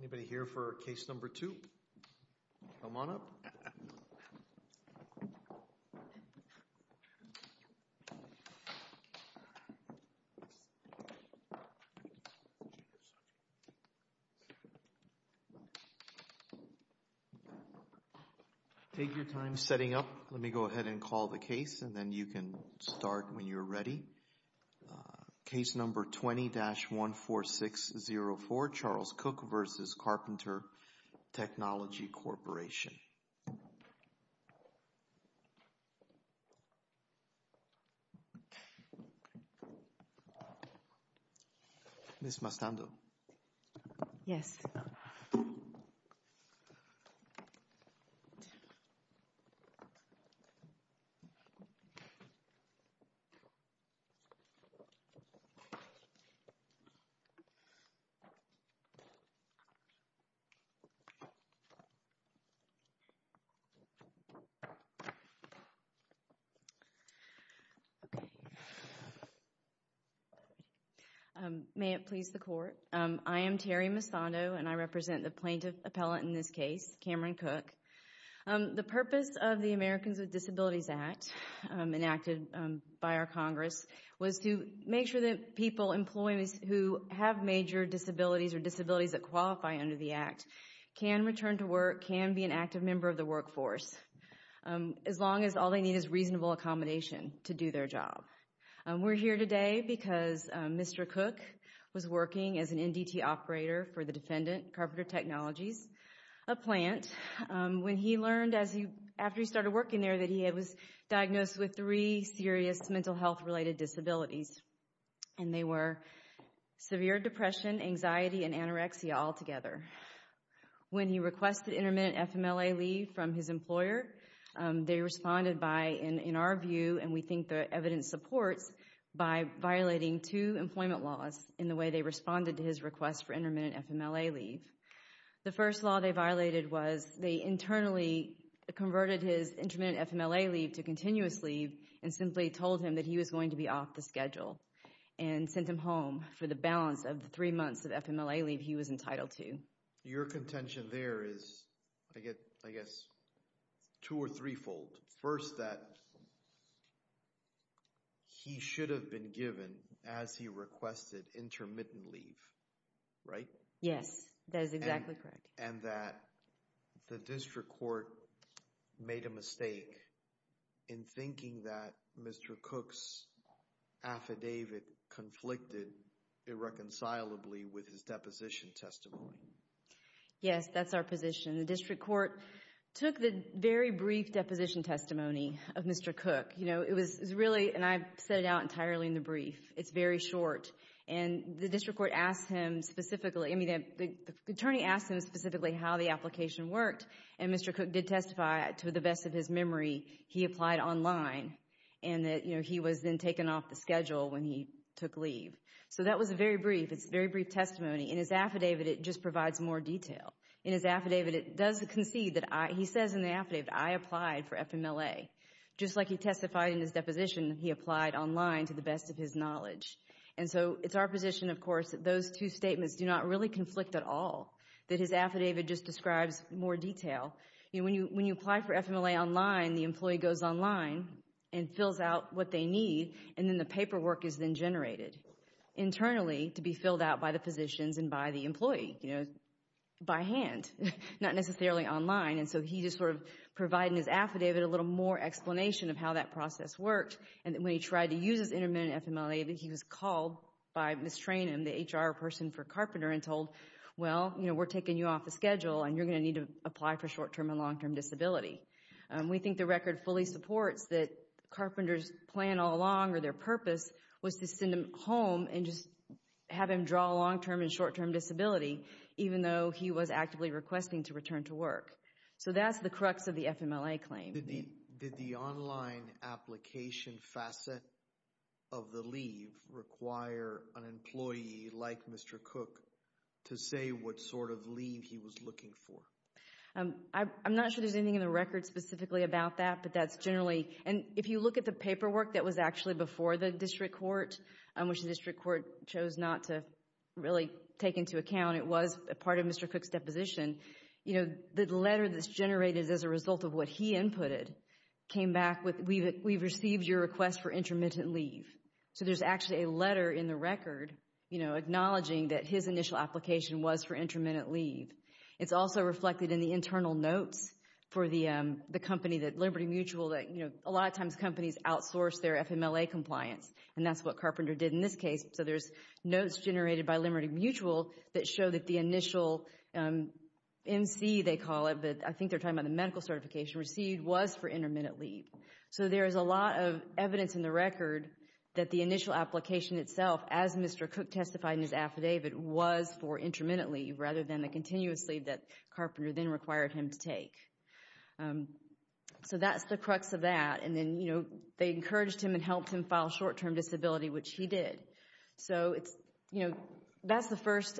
Anybody here for case number two? Come on up. Take your time setting up. Let me go ahead and call the case and then you can start when you're ready. Case number 20-14604, Charles Cooke v. Carpenter Technology Corporation. Ms. Mastando. Yes. May it please the Court. I am Terry Mastando and I represent the plaintiff appellate in this case, Cameron Cooke. The purpose of the Americans with Disabilities Act enacted by our Congress was to make sure that people, employees who have major disabilities or disabilities that qualify under the Act can return to work, can be an active member of the workforce as long as all they need is reasonable accommodation to do their job. We're here today because Mr. Cooke was working as an NDT operator for the defendant, Carpenter Technologies, a plant, when he learned after he started working there that he was diagnosed with three serious mental health related disabilities and they were severe depression, anxiety, and anorexia altogether. When he requested intermittent FMLA leave from his employer, they responded by, in our view, and we think the evidence supports, by violating two employment laws in the way they responded to his request for intermittent FMLA leave. The first law they violated was they internally converted his intermittent FMLA leave to continuous leave and simply told him that he was going to be off the schedule and sent him home for the balance of the three months of FMLA leave he was entitled to. Your contention there is, I guess, two or threefold. First, that he should have been given, as he requested, intermittent leave, right? Yes, that is exactly correct. And that the district court made a mistake in thinking that Mr. Cooke's affidavit conflicted irreconcilably with his deposition testimony. Yes, that's our position. The district court took the very brief deposition testimony of Mr. Cooke. You know, it was really, and I set it out entirely in the brief, it's very short, and the district court asked him specifically, I mean, the attorney asked him specifically how the application worked, and Mr. Cooke did testify to the best of his memory, he applied online, and that he was then taken off the schedule when he took leave. So that was a very brief, it's a very brief testimony. In his affidavit it just provides more detail. In his affidavit it does concede that, he says in the affidavit, I applied for FMLA. Just like he testified in his deposition, he applied online to the best of his knowledge. And so it's our position, of course, that those two statements do not really conflict at all, that his affidavit just describes more detail. You know, when you apply for FMLA online, the employee goes online and fills out what they need, and then the paperwork is then generated internally to be filled out by the physicians and by the employee, you know, by hand, not necessarily online. And so he just sort of provided in his affidavit a little more explanation of how that process worked. And when he tried to use his intermittent FMLA, he was called by Ms. Tranum, the HR person for Carpenter, and told, well, you know, we're taking you off the schedule, and you're going to need to apply for short-term and long-term disability. We think the record fully supports that Carpenter's plan all along, or their purpose, was to send him home and just have him draw long-term and short-term disability, even though he was actively requesting to return to work. So that's the crux of the FMLA claim. Did the online application facet of the leave require an employee like Mr. Cook to say what sort of leave he was looking for? I'm not sure there's anything in the record specifically about that, but that's generally. And if you look at the paperwork that was actually before the district court, which the district court chose not to really take into account, it was a part of Mr. Cook's deposition, you know, the letter that's generated as a result of what he inputted came back with, we've received your request for intermittent leave. So there's actually a letter in the record, you know, acknowledging that his initial application was for intermittent leave. It's also reflected in the internal notes for the company, Liberty Mutual, that a lot of times companies outsource their FMLA compliance, and that's what Carpenter did in this case. So there's notes generated by Liberty Mutual that show that the initial MC, they call it, but I think they're talking about the medical certification received, was for intermittent leave. So there is a lot of evidence in the record that the initial application itself, as Mr. Cook testified in his affidavit, was for intermittent leave rather than the continuous leave that Carpenter then required him to take. So that's the crux of that. And then, you know, they encouraged him and helped him file short-term disability, which he did. So it's, you know, that's the first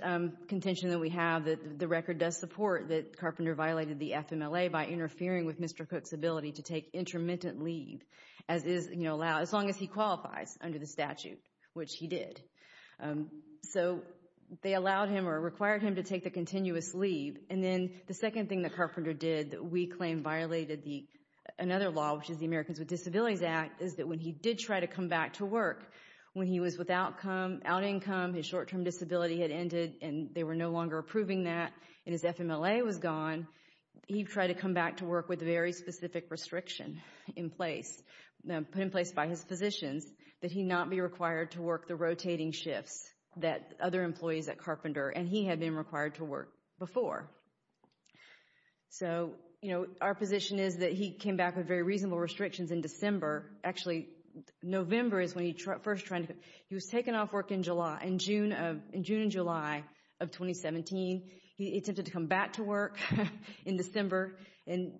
contention that we have, that the record does support that Carpenter violated the FMLA by interfering with Mr. Cook's ability to take intermittent leave as long as he qualifies under the statute, which he did. So they allowed him or required him to take the continuous leave. And then the second thing that Carpenter did that we claim violated another law, which is the Americans with Disabilities Act, is that when he did try to come back to work, when he was without income, his short-term disability had ended, and they were no longer approving that, and his FMLA was gone, he tried to come back to work with very specific restriction in place, put in place by his physicians, that he not be required to work the rotating shifts that other employees at Carpenter, and he had been required to work before. So, you know, our position is that he came back with very reasonable restrictions in December. Actually, November is when he first tried to, he was taken off work in July, in June and July of 2017. He attempted to come back to work in December, and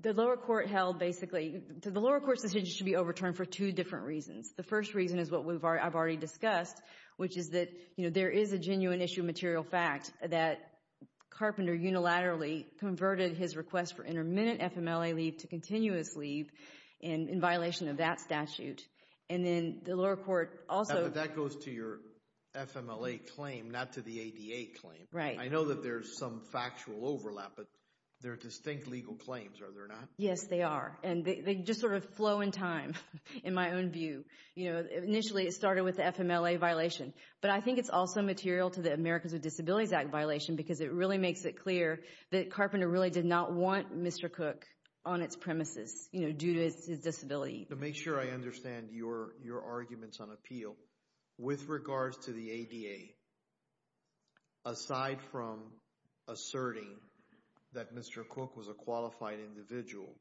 the lower court held basically, the lower court's decision should be overturned for two different reasons. The first reason is what I've already discussed, which is that, you know, there is a genuine issue of material fact that Carpenter unilaterally converted his request for intermittent FMLA leave to continuous leave in violation of that statute, and then the lower court also— But that goes to your FMLA claim, not to the ADA claim. Right. I know that there's some factual overlap, but they're distinct legal claims, are there not? Yes, they are, and they just sort of flow in time, in my own view. You know, initially it started with the FMLA violation, but I think it's also material to the Americans with Disabilities Act violation because it really makes it clear that Carpenter really did not want Mr. Cook on its premises, you know, due to his disability. To make sure I understand your arguments on appeal, with regards to the ADA, aside from asserting that Mr. Cook was a qualified individual,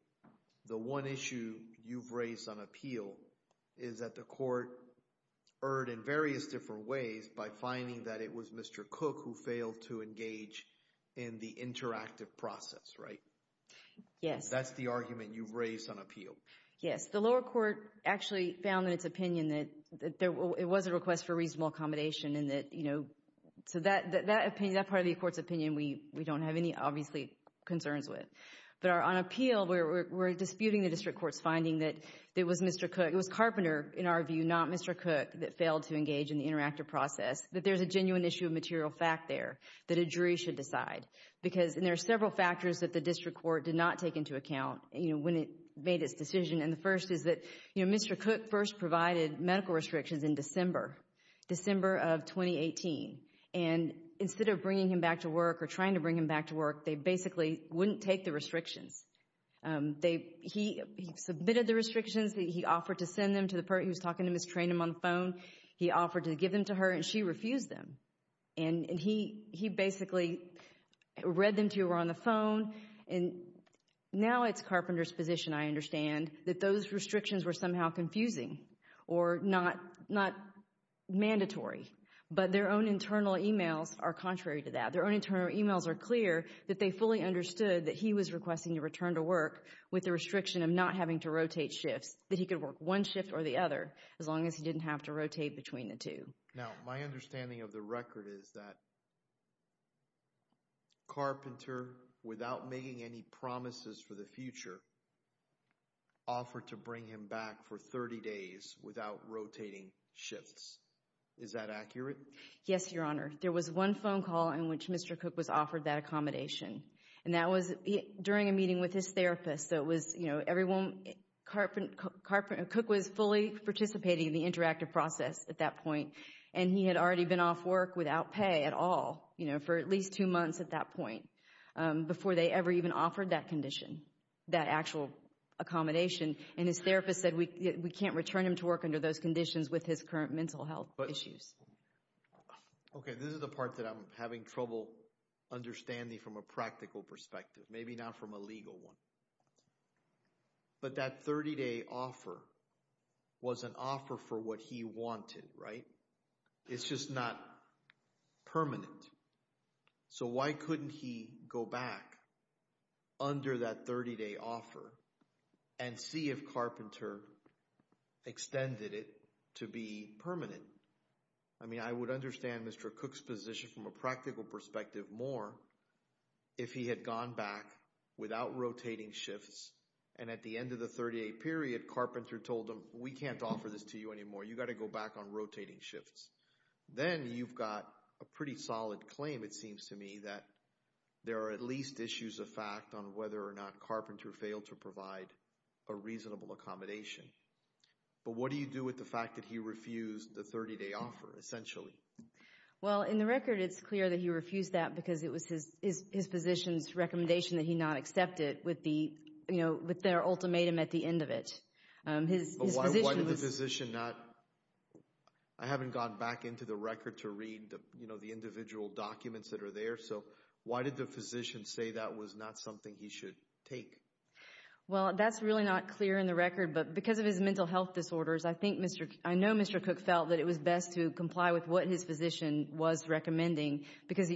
the one issue you've raised on appeal is that the court erred in various different ways by finding that it was Mr. Cook who failed to engage in the interactive process, right? Yes. That's the argument you've raised on appeal. Yes. The lower court actually found in its opinion that it was a request for reasonable accommodation and that, you know, so that part of the court's opinion we don't have any, obviously, concerns with. But on appeal, we're disputing the district court's finding that it was Mr. Cook, it was Carpenter, in our view, not Mr. Cook, that failed to engage in the interactive process, that there's a genuine issue of material fact there that a jury should decide. Because there are several factors that the district court did not take into account, you know, when it made its decision, and the first is that, you know, Mr. Cook first provided medical restrictions in December, December of 2018, and instead of bringing him back to work or trying to bring him back to work, they basically wouldn't take the restrictions. He submitted the restrictions, he offered to send them to the person he was talking to, mistrained him on the phone, he offered to give them to her, and she refused them. And he basically read them to her on the phone, and now it's Carpenter's position, I understand, that those restrictions were somehow confusing or not mandatory. But their own internal emails are contrary to that. Their own internal emails are clear that they fully understood that he was requesting a return to work with the restriction of not having to rotate shifts, that he could work one shift or the other, as long as he didn't have to rotate between the two. Now, my understanding of the record is that Carpenter, without making any promises for the future, offered to bring him back for 30 days without rotating shifts. Is that accurate? Yes, Your Honor. There was one phone call in which Mr. Cook was offered that accommodation, and that was during a meeting with his therapist. So it was, you know, everyone, Carpenter, Cook was fully participating in the interactive process at that point, and he had already been off work without pay at all, you know, for at least two months at that point, before they ever even offered that condition, that actual accommodation. And his therapist said we can't return him to work under those conditions with his current mental health issues. Okay, this is the part that I'm having trouble understanding from a practical perspective, maybe not from a legal one. But that 30-day offer was an offer for what he wanted, right? It's just not permanent. So why couldn't he go back under that 30-day offer and see if Carpenter extended it to be permanent? I mean, I would understand Mr. Cook's position from a practical perspective more if he had gone back without rotating shifts, and at the end of the 30-day period, Carpenter told him we can't offer this to you anymore. You've got to go back on rotating shifts. Then you've got a pretty solid claim, it seems to me, that there are at least issues of fact on whether or not Carpenter failed to provide a reasonable accommodation. But what do you do with the fact that he refused the 30-day offer, essentially? Well, in the record, it's clear that he refused that because it was his physician's recommendation that he not accept it with their ultimatum at the end of it. But why did the physician not? I haven't gone back into the record to read the individual documents that are there, so why did the physician say that was not something he should take? Well, that's really not clear in the record, but because of his mental health disorders, I know Mr. Cook felt that it was best to comply with what his physician was recommending because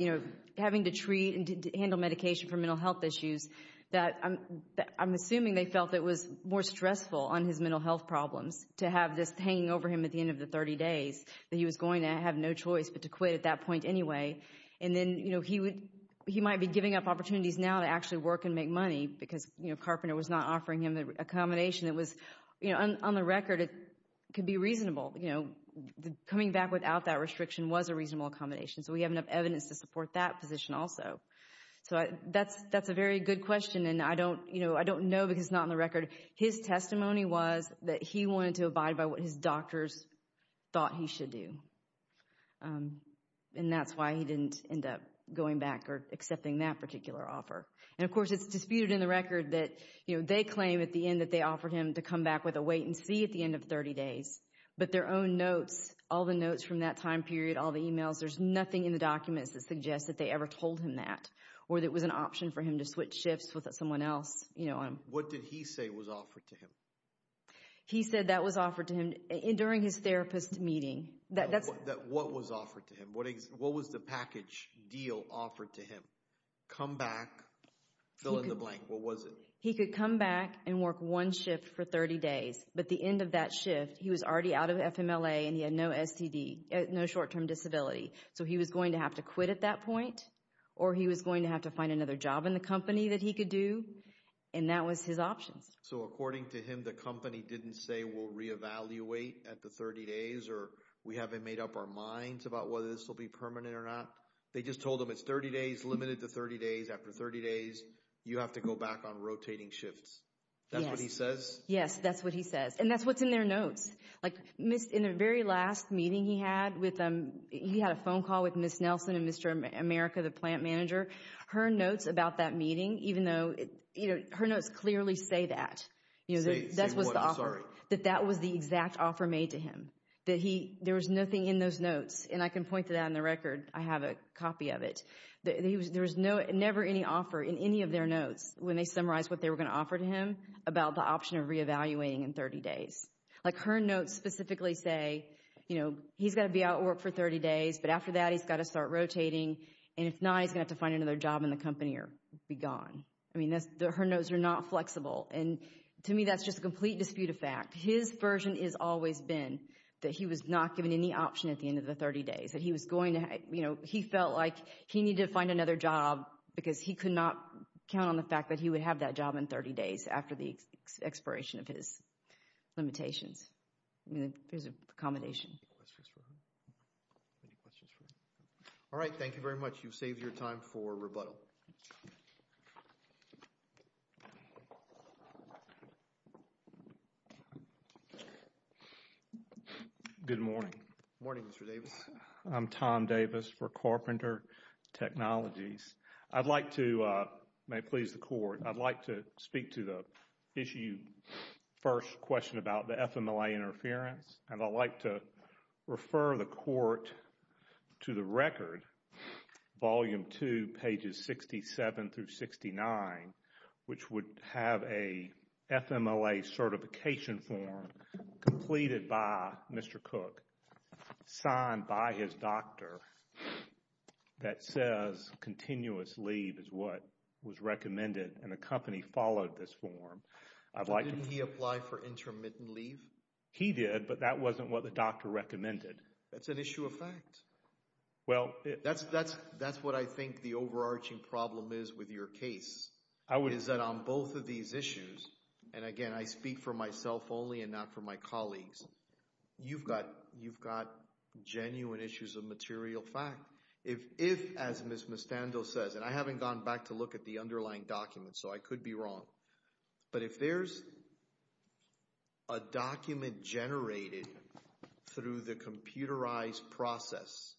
having to treat and handle medication for mental health issues, I'm assuming they felt it was more stressful on his mental health problems to have this hanging over him at the end of the 30 days, that he was going to have no choice but to quit at that point anyway. And then he might be giving up opportunities now to actually work and make money because Carpenter was not offering him an accommodation. On the record, it could be reasonable. Coming back without that restriction was a reasonable accommodation, so we have enough evidence to support that position also. So that's a very good question, and I don't know because it's not in the record. His testimony was that he wanted to abide by what his doctors thought he should do, and that's why he didn't end up going back or accepting that particular offer. And, of course, it's disputed in the record that they claim at the end that they offered him to come back with a wait-and-see at the end of 30 days, but their own notes, all the notes from that time period, all the emails, there's nothing in the documents that suggests that they ever told him that or that it was an option for him to switch shifts with someone else. What did he say was offered to him? He said that was offered to him during his therapist meeting. What was offered to him? What was the package deal offered to him? Come back, fill in the blank. What was it? He could come back and work one shift for 30 days, but the end of that shift he was already out of FMLA and he had no STD, no short-term disability, so he was going to have to quit at that point or he was going to have to find another job in the company that he could do, and that was his options. So according to him, the company didn't say, we'll reevaluate at the 30 days or we haven't made up our minds about whether this will be permanent or not. They just told him it's 30 days, limited to 30 days. After 30 days, you have to go back on rotating shifts. That's what he says? Yes, that's what he says, and that's what's in their notes. In the very last meeting he had, he had a phone call with Ms. Nelson and Mr. America, the plant manager. Her notes about that meeting, even though her notes clearly say that. Say what? I'm sorry. That that was the exact offer made to him, that there was nothing in those notes, and I can point to that in the record. I have a copy of it. There was never any offer in any of their notes when they summarized what they were going to offer to him about the option of reevaluating in 30 days. Like her notes specifically say, you know, he's got to be out of work for 30 days, but after that he's got to start rotating, and if not he's going to have to find another job in the company or be gone. I mean, her notes are not flexible, and to me that's just a complete dispute of fact. His version has always been that he was not given any option at the end of the 30 days. He felt like he needed to find another job because he could not count on the fact that he would have that job in 30 days after the expiration of his limitations. I mean, there's a combination. All right, thank you very much. You've saved your time for rebuttal. Good morning. Good morning, Mr. Davis. I'm Tom Davis for Carpenter Technologies. I'd like to, may it please the Court, I'd like to speak to the issue, first question about the FMLA interference, and I'd like to refer the Court to the record, Volume 2, pages 67 through 69, which would have a FMLA certification form completed by Mr. Cook, signed by his doctor, that says continuous leave is what was recommended, and the company followed this form. Didn't he apply for intermittent leave? He did, but that wasn't what the doctor recommended. That's an issue of fact. That's what I think the overarching problem is with your case, is that on both of these issues, and again I speak for myself only and not for my colleagues, you've got genuine issues of material fact. If, as Ms. Mustando says, and I haven't gone back to look at the underlying documents, so I could be wrong, but if there's a document generated through the computerized process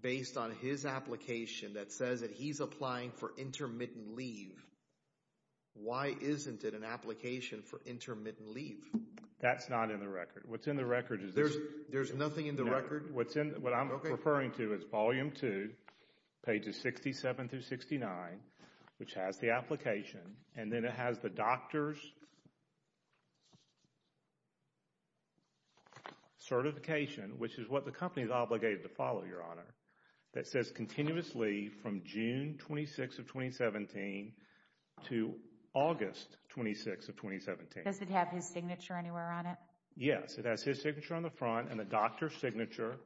based on his application that says that he's applying for intermittent leave, why isn't it an application for intermittent leave? That's not in the record. What's in the record is this. There's nothing in the record? No. What I'm referring to is Volume 2, pages 67 through 69, which has the application, and then it has the doctor's certification, which is what the company is obligated to follow, Your Honor, that says continuous leave from June 26 of 2017 to August 26 of 2017. Does it have his signature anywhere on it? Yes, it has his signature on the front and the doctor's signature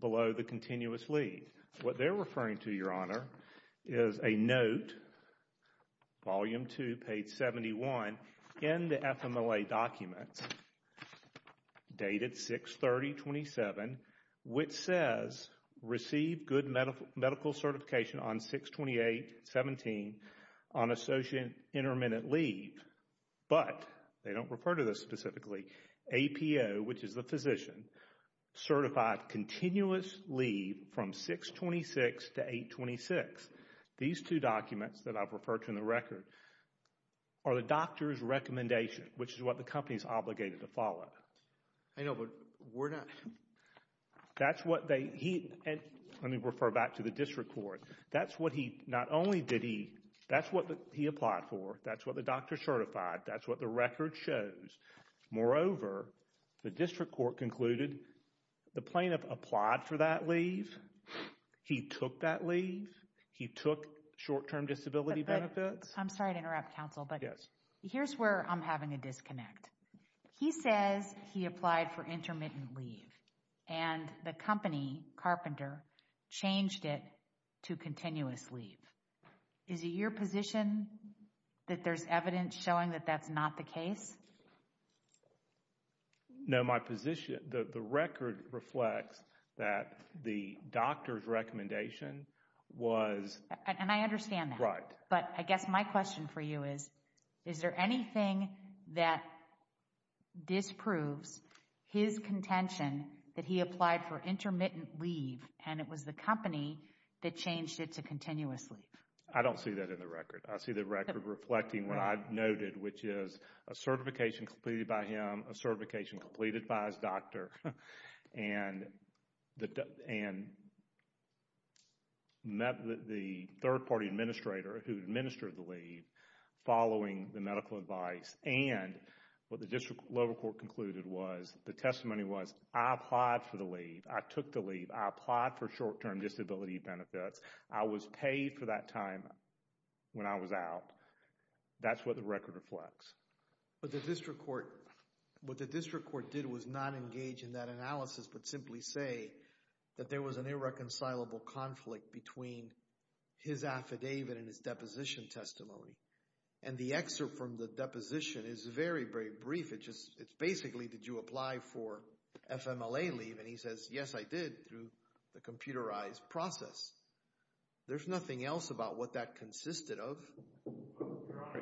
below the continuous leave. What they're referring to, Your Honor, is a note, Volume 2, page 71, in the FMLA document dated 6-30-27, which says receive good medical certification on 6-28-17 on associate intermittent leave, but they don't refer to this specifically, APO, which is the physician, certified continuous leave from 6-26 to 8-26. These two documents that I've referred to in the record are the doctor's recommendation, which is what the company is obligated to follow. I know, but we're not— That's what they— Let me refer back to the district court. Not only did he— That's what he applied for. That's what the doctor certified. That's what the record shows. Moreover, the district court concluded the plaintiff applied for that leave. He took that leave. He took short-term disability benefits. I'm sorry to interrupt, counsel, but here's where I'm having a disconnect. He says he applied for intermittent leave, and the company, Carpenter, changed it to continuous leave. Is it your position that there's evidence showing that that's not the case? No, my position— The record reflects that the doctor's recommendation was— And I understand that. Right. But I guess my question for you is, is there anything that disproves his contention that he applied for intermittent leave, and it was the company that changed it to continuous leave? I don't see that in the record. I see the record reflecting what I've noted, which is a certification completed by him, a certification completed by his doctor, and the third-party administrator who administered the leave following the medical advice. And what the district lower court concluded was, the testimony was, I applied for the leave. I took the leave. I applied for short-term disability benefits. I was paid for that time when I was out. That's what the record reflects. But the district court— What the district court did was not engage in that analysis but simply say that there was an irreconcilable conflict between his affidavit and his deposition testimony. And the excerpt from the deposition is very, very brief. It's basically, did you apply for FMLA leave? And he says, yes, I did, through the computerized process. There's nothing else about what that consisted of.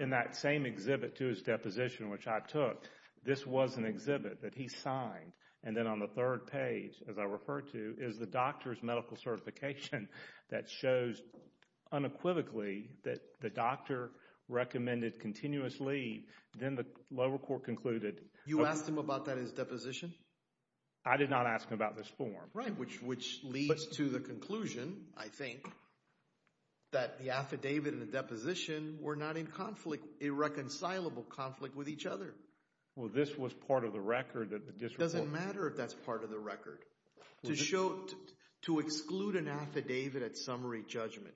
In that same exhibit to his deposition, which I took, this was an exhibit that he signed, and then on the third page, as I referred to, is the doctor's medical certification that shows unequivocally that the doctor recommended continuous leave. Then the lower court concluded— You asked him about that in his deposition? I did not ask him about this form. Right, which leads to the conclusion, I think, that the affidavit and the deposition were not in conflict, irreconcilable conflict with each other. Well, this was part of the record that the district court— It doesn't matter if that's part of the record. To exclude an affidavit at summary judgment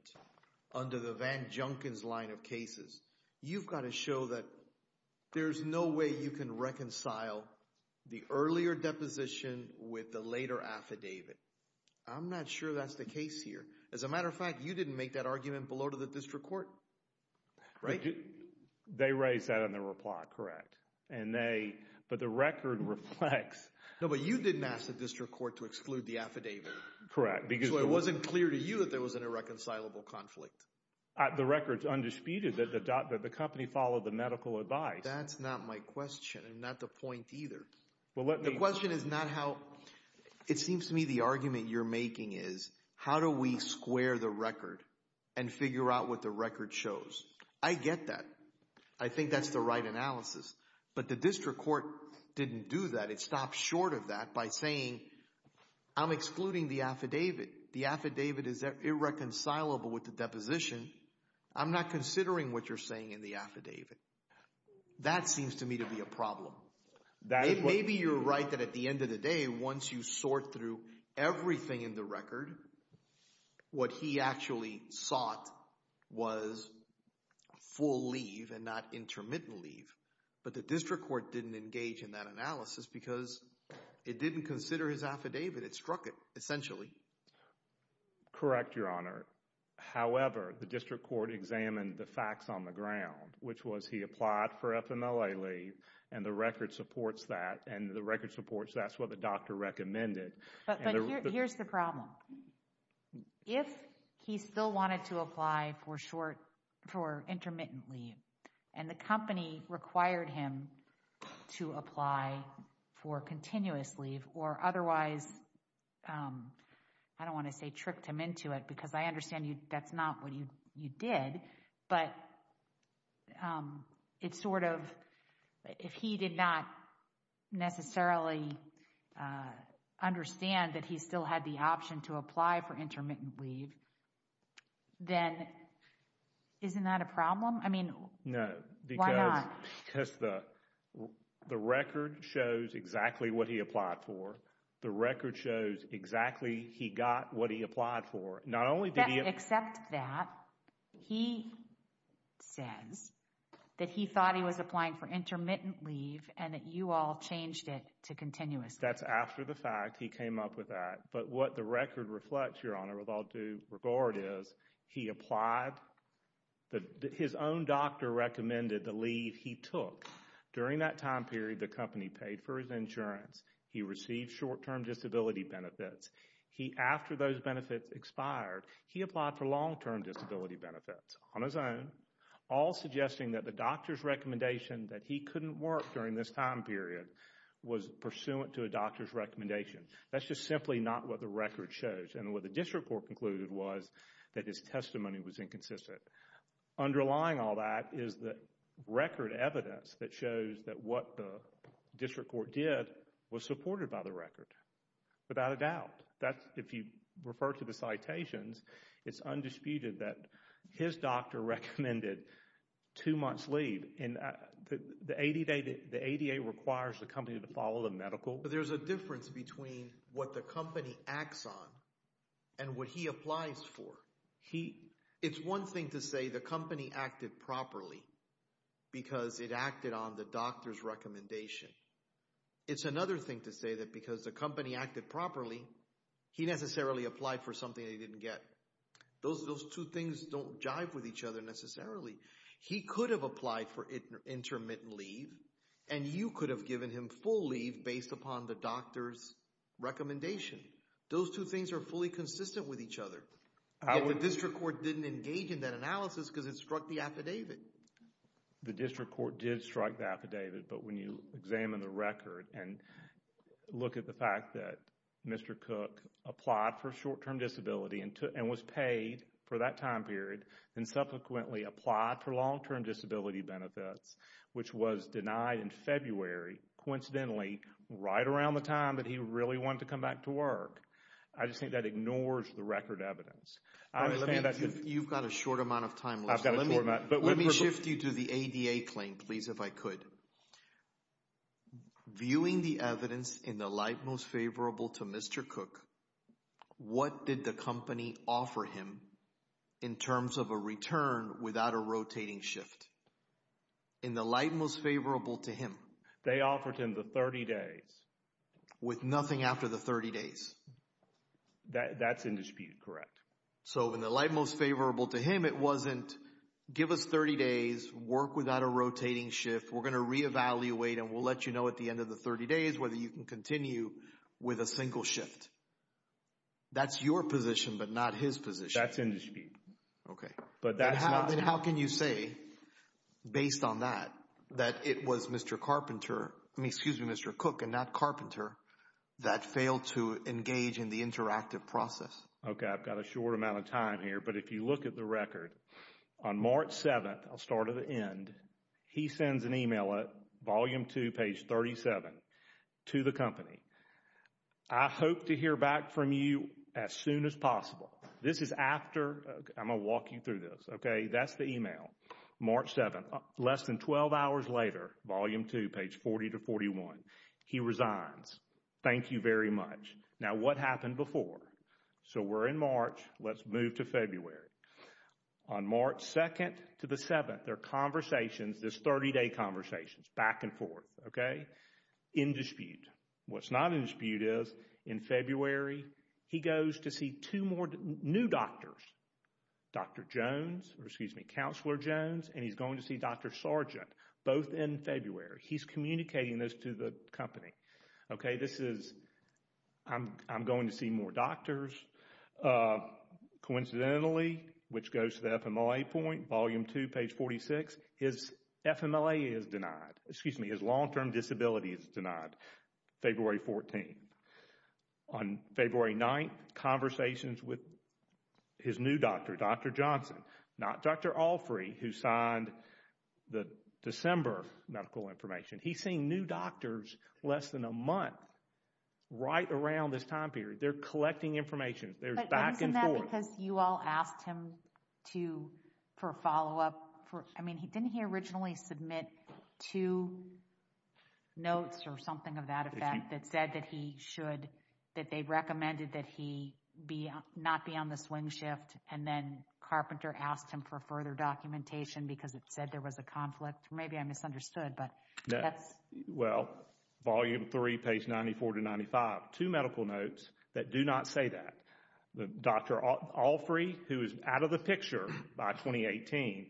under the Van Junkins line of cases, you've got to show that there's no way you can reconcile the earlier deposition with the later affidavit. I'm not sure that's the case here. As a matter of fact, you didn't make that argument below to the district court, right? They raised that in their reply, correct. But the record reflects— No, but you didn't ask the district court to exclude the affidavit. Correct, because— So it wasn't clear to you that there was an irreconcilable conflict. The record's undisputed that the company followed the medical advice. That's not my question, and not the point either. The question is not how— It seems to me the argument you're making is how do we square the record and figure out what the record shows? I get that. I think that's the right analysis. But the district court didn't do that. It stopped short of that by saying, I'm excluding the affidavit. The affidavit is irreconcilable with the deposition. I'm not considering what you're saying in the affidavit. That seems to me to be a problem. Maybe you're right that at the end of the day, once you sort through everything in the record, what he actually sought was full leave and not intermittent leave. But the district court didn't engage in that analysis because it didn't consider his affidavit. It struck it, essentially. Correct, Your Honor. However, the district court examined the facts on the ground, which was he applied for FMLA leave, and the record supports that, and the record supports that's what the doctor recommended. But here's the problem. If he still wanted to apply for intermittent leave and the company required him to apply for continuous leave or otherwise, I don't want to say tricked him into it, because I understand that's not what you did, but if he did not necessarily understand that he still had the option to apply for intermittent leave, then isn't that a problem? I mean, why not? No, because the record shows exactly what he applied for. The record shows exactly he got what he applied for. Except that he says that he thought he was applying for intermittent leave and that you all changed it to continuous leave. That's after the fact. He came up with that. But what the record reflects, Your Honor, with all due regard, is he applied. His own doctor recommended the leave he took. During that time period, the company paid for his insurance. He received short-term disability benefits. After those benefits expired, he applied for long-term disability benefits on his own, all suggesting that the doctor's recommendation that he couldn't work during this time period was pursuant to a doctor's recommendation. That's just simply not what the record shows. What the district court concluded was that his testimony was inconsistent. Underlying all that is the record evidence that shows that what the district court did was supported by the record, without a doubt. If you refer to the citations, it's undisputed that his doctor recommended two months leave. The ADA requires the company to follow the medical. There's a difference between what the company acts on and what he applies for. It's one thing to say the company acted properly because it acted on the doctor's recommendation. It's another thing to say that because the company acted properly, he necessarily applied for something they didn't get. Those two things don't jive with each other necessarily. He could have applied for intermittent leave, and you could have given him full leave based upon the doctor's recommendation. Those two things are fully consistent with each other. The district court didn't engage in that analysis because it struck the affidavit. The district court did strike the affidavit, but when you examine the record and look at the fact that Mr. Cook applied for short-term disability and was paid for that time period and subsequently applied for long-term disability benefits, which was denied in February, coincidentally, right around the time that he really wanted to come back to work, I just think that ignores the record evidence. You've got a short amount of time left. Let me shift you to the ADA claim, please, if I could. Viewing the evidence in the light most favorable to Mr. Cook, what did the company offer him in terms of a return without a rotating shift? In the light most favorable to him. They offered him the 30 days. With nothing after the 30 days. That's in dispute, correct. So in the light most favorable to him, it wasn't give us 30 days, work without a rotating shift, we're going to reevaluate, and we'll let you know at the end of the 30 days whether you can continue with a single shift. That's your position, but not his position. That's in dispute. Then how can you say, based on that, that it was Mr. Cook and not Carpenter that failed to engage in the interactive process? Okay, I've got a short amount of time here, but if you look at the record, on March 7th, I'll start at the end, he sends an email at volume 2, page 37, to the company. I hope to hear back from you as soon as possible. This is after, I'm going to walk you through this, okay, that's the email. March 7th, less than 12 hours later, volume 2, page 40 to 41, he resigns. Thank you very much. Now what happened before? So we're in March, let's move to February. On March 2nd to the 7th, there are conversations, in dispute. What's not in dispute is, in February, he goes to see two more new doctors, Dr. Jones, or excuse me, Counselor Jones, and he's going to see Dr. Sargent, both in February. He's communicating this to the company. Okay, this is, I'm going to see more doctors. Coincidentally, which goes to the FMLA point, volume 2, page 46, his FMLA is denied. Excuse me, his long-term disability is denied. February 14th. On February 9th, conversations with his new doctor, Dr. Johnson. Not Dr. Alfrey, who signed the December medical information. He's seeing new doctors less than a month, right around this time period. They're collecting information. There's back and forth. Because you all asked him for a follow-up. I mean, didn't he originally submit two notes or something of that effect that said that he should, that they recommended that he not be on the swing shift, and then Carpenter asked him for further documentation because it said there was a conflict. Maybe I misunderstood, but that's. Well, volume 3, page 94 to 95, two medical notes that do not say that. Dr. Alfrey, who is out of the picture by 2018,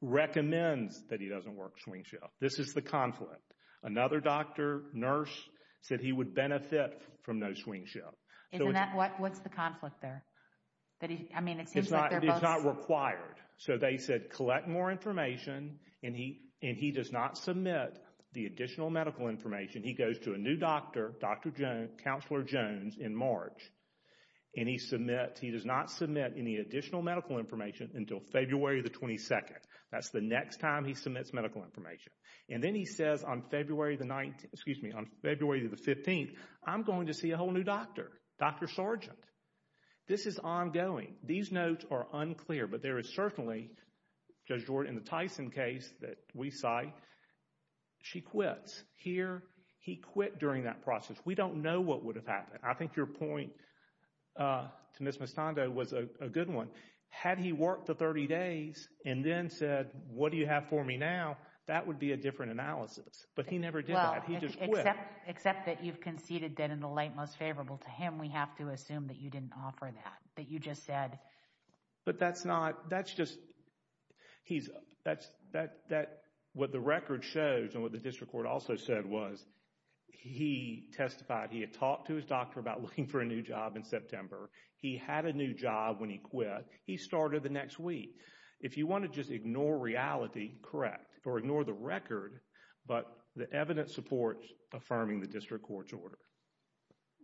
recommends that he doesn't work swing shift. This is the conflict. Another doctor, nurse, said he would benefit from no swing shift. What's the conflict there? I mean, it seems like they're both. It's not required. So they said collect more information, and he does not submit the additional medical information. He goes to a new doctor, Dr. Jones, Counselor Jones, in March, and he does not submit any additional medical information until February the 22nd. That's the next time he submits medical information. And then he says on February the 15th, I'm going to see a whole new doctor, Dr. Sargent. This is ongoing. These notes are unclear, but there is certainly, Judge Jordan, in the Tyson case that we cite, she quits. Here, he quit during that process. We don't know what would have happened. I think your point to Ms. Mistando was a good one. Had he worked the 30 days and then said, what do you have for me now, that would be a different analysis. But he never did that. He just quit. Except that you've conceded that in the light most favorable to him, we have to assume that you didn't offer that, that you just said. But that's not, that's just, he's, that's, that, what the record shows and what the district court also said was he testified, he had talked to his doctor about looking for a new job in September. He had a new job when he quit. He started the next week. If you want to just ignore reality, correct, or ignore the record, but the evidence supports affirming the district court's order.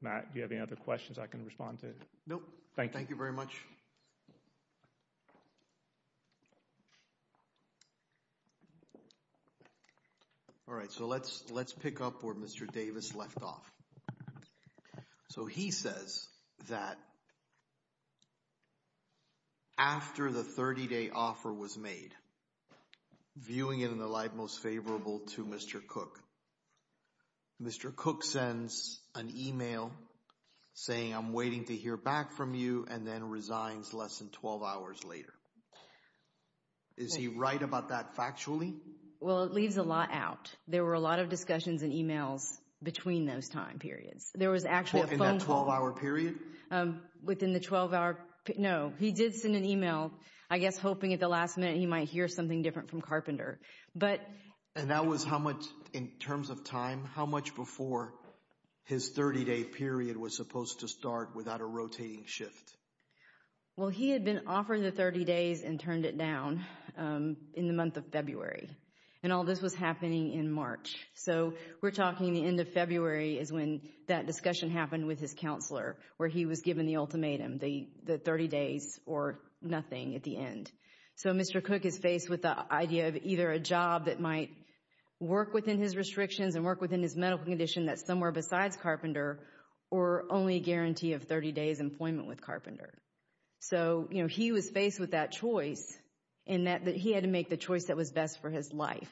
Matt, do you have any other questions I can respond to? Nope. Thank you very much. All right, so let's pick up where Mr. Davis left off. So he says that after the 30-day offer was made, viewing it in the light most favorable to Mr. Cook, Mr. Cook sends an email saying I'm waiting to hear back from you and then resigns less than 12 hours later. Is he right about that factually? Well, it leaves a lot out. There were a lot of discussions and emails between those time periods. There was actually a phone call. In that 12-hour period? Within the 12-hour, no. He did send an email, I guess, hoping at the last minute he might hear something different from Carpenter. And that was in terms of time? How much before his 30-day period was supposed to start without a rotating shift? Well, he had been offering the 30 days and turned it down in the month of February. And all this was happening in March. So we're talking the end of February is when that discussion happened with his counselor where he was given the ultimatum, the 30 days or nothing at the end. So Mr. Cook is faced with the idea of either a job that might work within his restrictions and work within his medical condition that's somewhere besides Carpenter or only a guarantee of 30 days employment with Carpenter. So he was faced with that choice in that he had to make the choice that was best for his life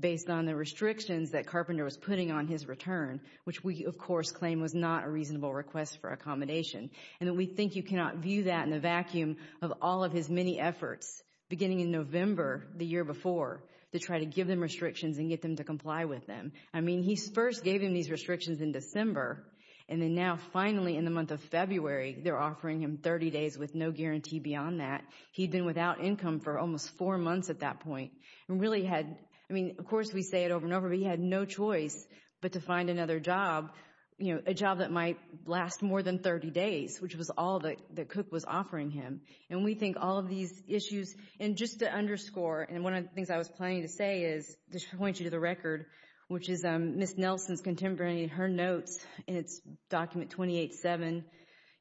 based on the restrictions that Carpenter was putting on his return, which we, of course, claim was not a reasonable request for accommodation. And we think you cannot view that in the vacuum of all of his many efforts beginning in November the year before to try to give them restrictions and get them to comply with them. I mean, he first gave him these restrictions in December, and then now finally in the month of February they're offering him 30 days with no guarantee beyond that. He'd been without income for almost four months at that point and really had, I mean, of course we say it over and over, but he had no choice but to find another job, you know, a job that might last more than 30 days, which was all that Cook was offering him. And we think all of these issues, and just to underscore, and one of the things I was planning to say is just to point you to the record, which is Ms. Nelson's contemporary in her notes in its document 28-7,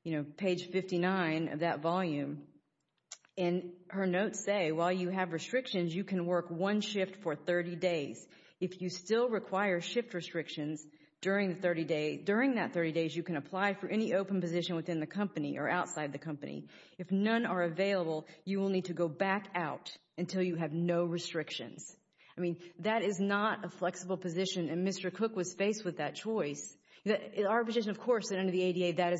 you know, page 59 of that volume. And her notes say, while you have restrictions, you can work one shift for 30 days. If you still require shift restrictions during that 30 days, you can apply for any open position within the company or outside the company. If none are available, you will need to go back out until you have no restrictions. I mean, that is not a flexible position, and Mr. Cook was faced with that choice. Our position, of course, under the ADA, that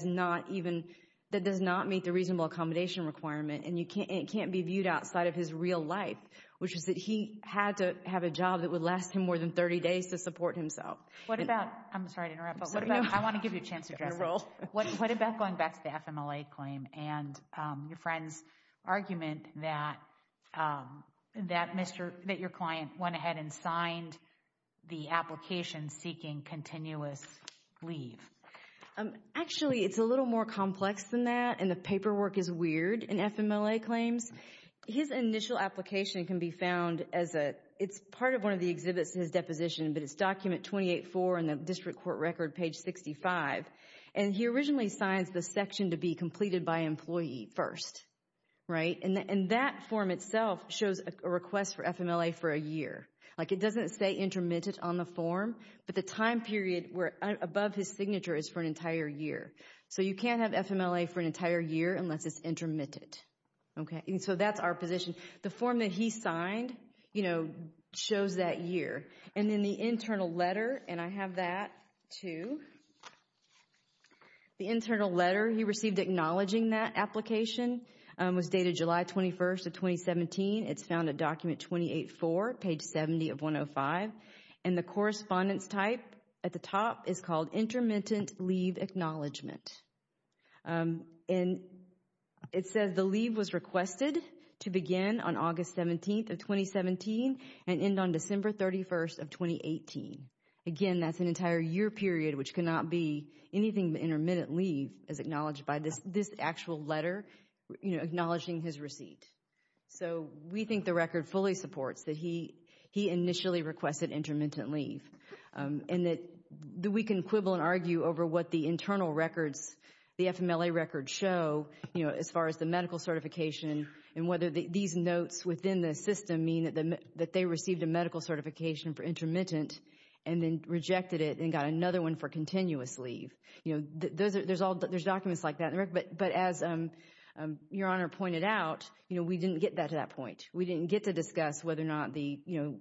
does not meet the reasonable accommodation requirement, and it can't be viewed outside of his real life, which is that he had to have a job that would last him more than 30 days to support himself. What about—I'm sorry to interrupt, but what about—I want to give you a chance to address that. What about going back to the FMLA claim and your friend's argument that your client went ahead and signed the application seeking continuous leave? Actually, it's a little more complex than that, and the paperwork is weird in FMLA claims. His initial application can be found as a—it's part of one of the exhibits in his deposition, but it's document 28-4 in the district court record, page 65, and he originally signs the section to be completed by employee first, right? And that form itself shows a request for FMLA for a year. Like, it doesn't say intermittent on the form, but the time period above his signature is for an entire year. So you can't have FMLA for an entire year unless it's intermittent. Okay, and so that's our position. The form that he signed, you know, shows that year. And then the internal letter, and I have that, too. The internal letter he received acknowledging that application was dated July 21st of 2017. It's found at document 28-4, page 70 of 105, and the correspondence type at the top is called intermittent leave acknowledgement. And it says the leave was requested to begin on August 17th of 2017 and end on December 31st of 2018. Again, that's an entire year period, which cannot be anything but intermittent leave, as acknowledged by this actual letter, you know, acknowledging his receipt. So we think the record fully supports that he initially requested intermittent leave and that we can quibble and argue over what the internal records, the FMLA records show, you know, as far as the medical certification and whether these notes within the system mean that they received a medical certification for intermittent and then rejected it and got another one for continuous leave. You know, there's documents like that. But as Your Honor pointed out, you know, we didn't get to that point. We didn't get to discuss whether or not the, you know,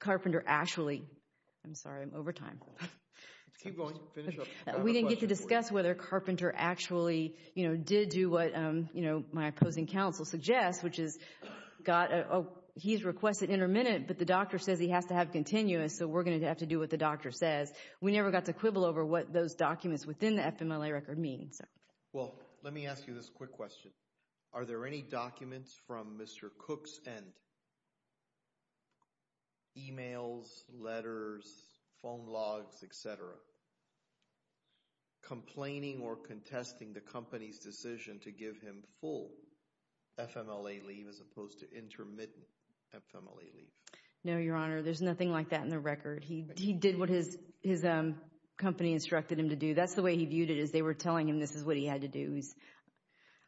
Carpenter actually, I'm sorry, I'm over time. Keep going. Finish up. We didn't get to discuss whether Carpenter actually, you know, did do what, you know, my opposing counsel suggests, which is he's requested intermittent, but the doctor says he has to have continuous, so we're going to have to do what the doctor says. We never got to quibble over what those documents within the FMLA record mean. Well, let me ask you this quick question. Are there any documents from Mr. Cook's end, emails, letters, phone logs, et cetera, complaining or contesting the company's decision to give him full FMLA leave as opposed to intermittent FMLA leave? No, Your Honor. There's nothing like that in the record. He did what his company instructed him to do. That's the way he viewed it is they were telling him this is what he had to do.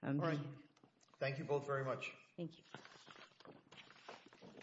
All right. Thank you both very much. Thank you.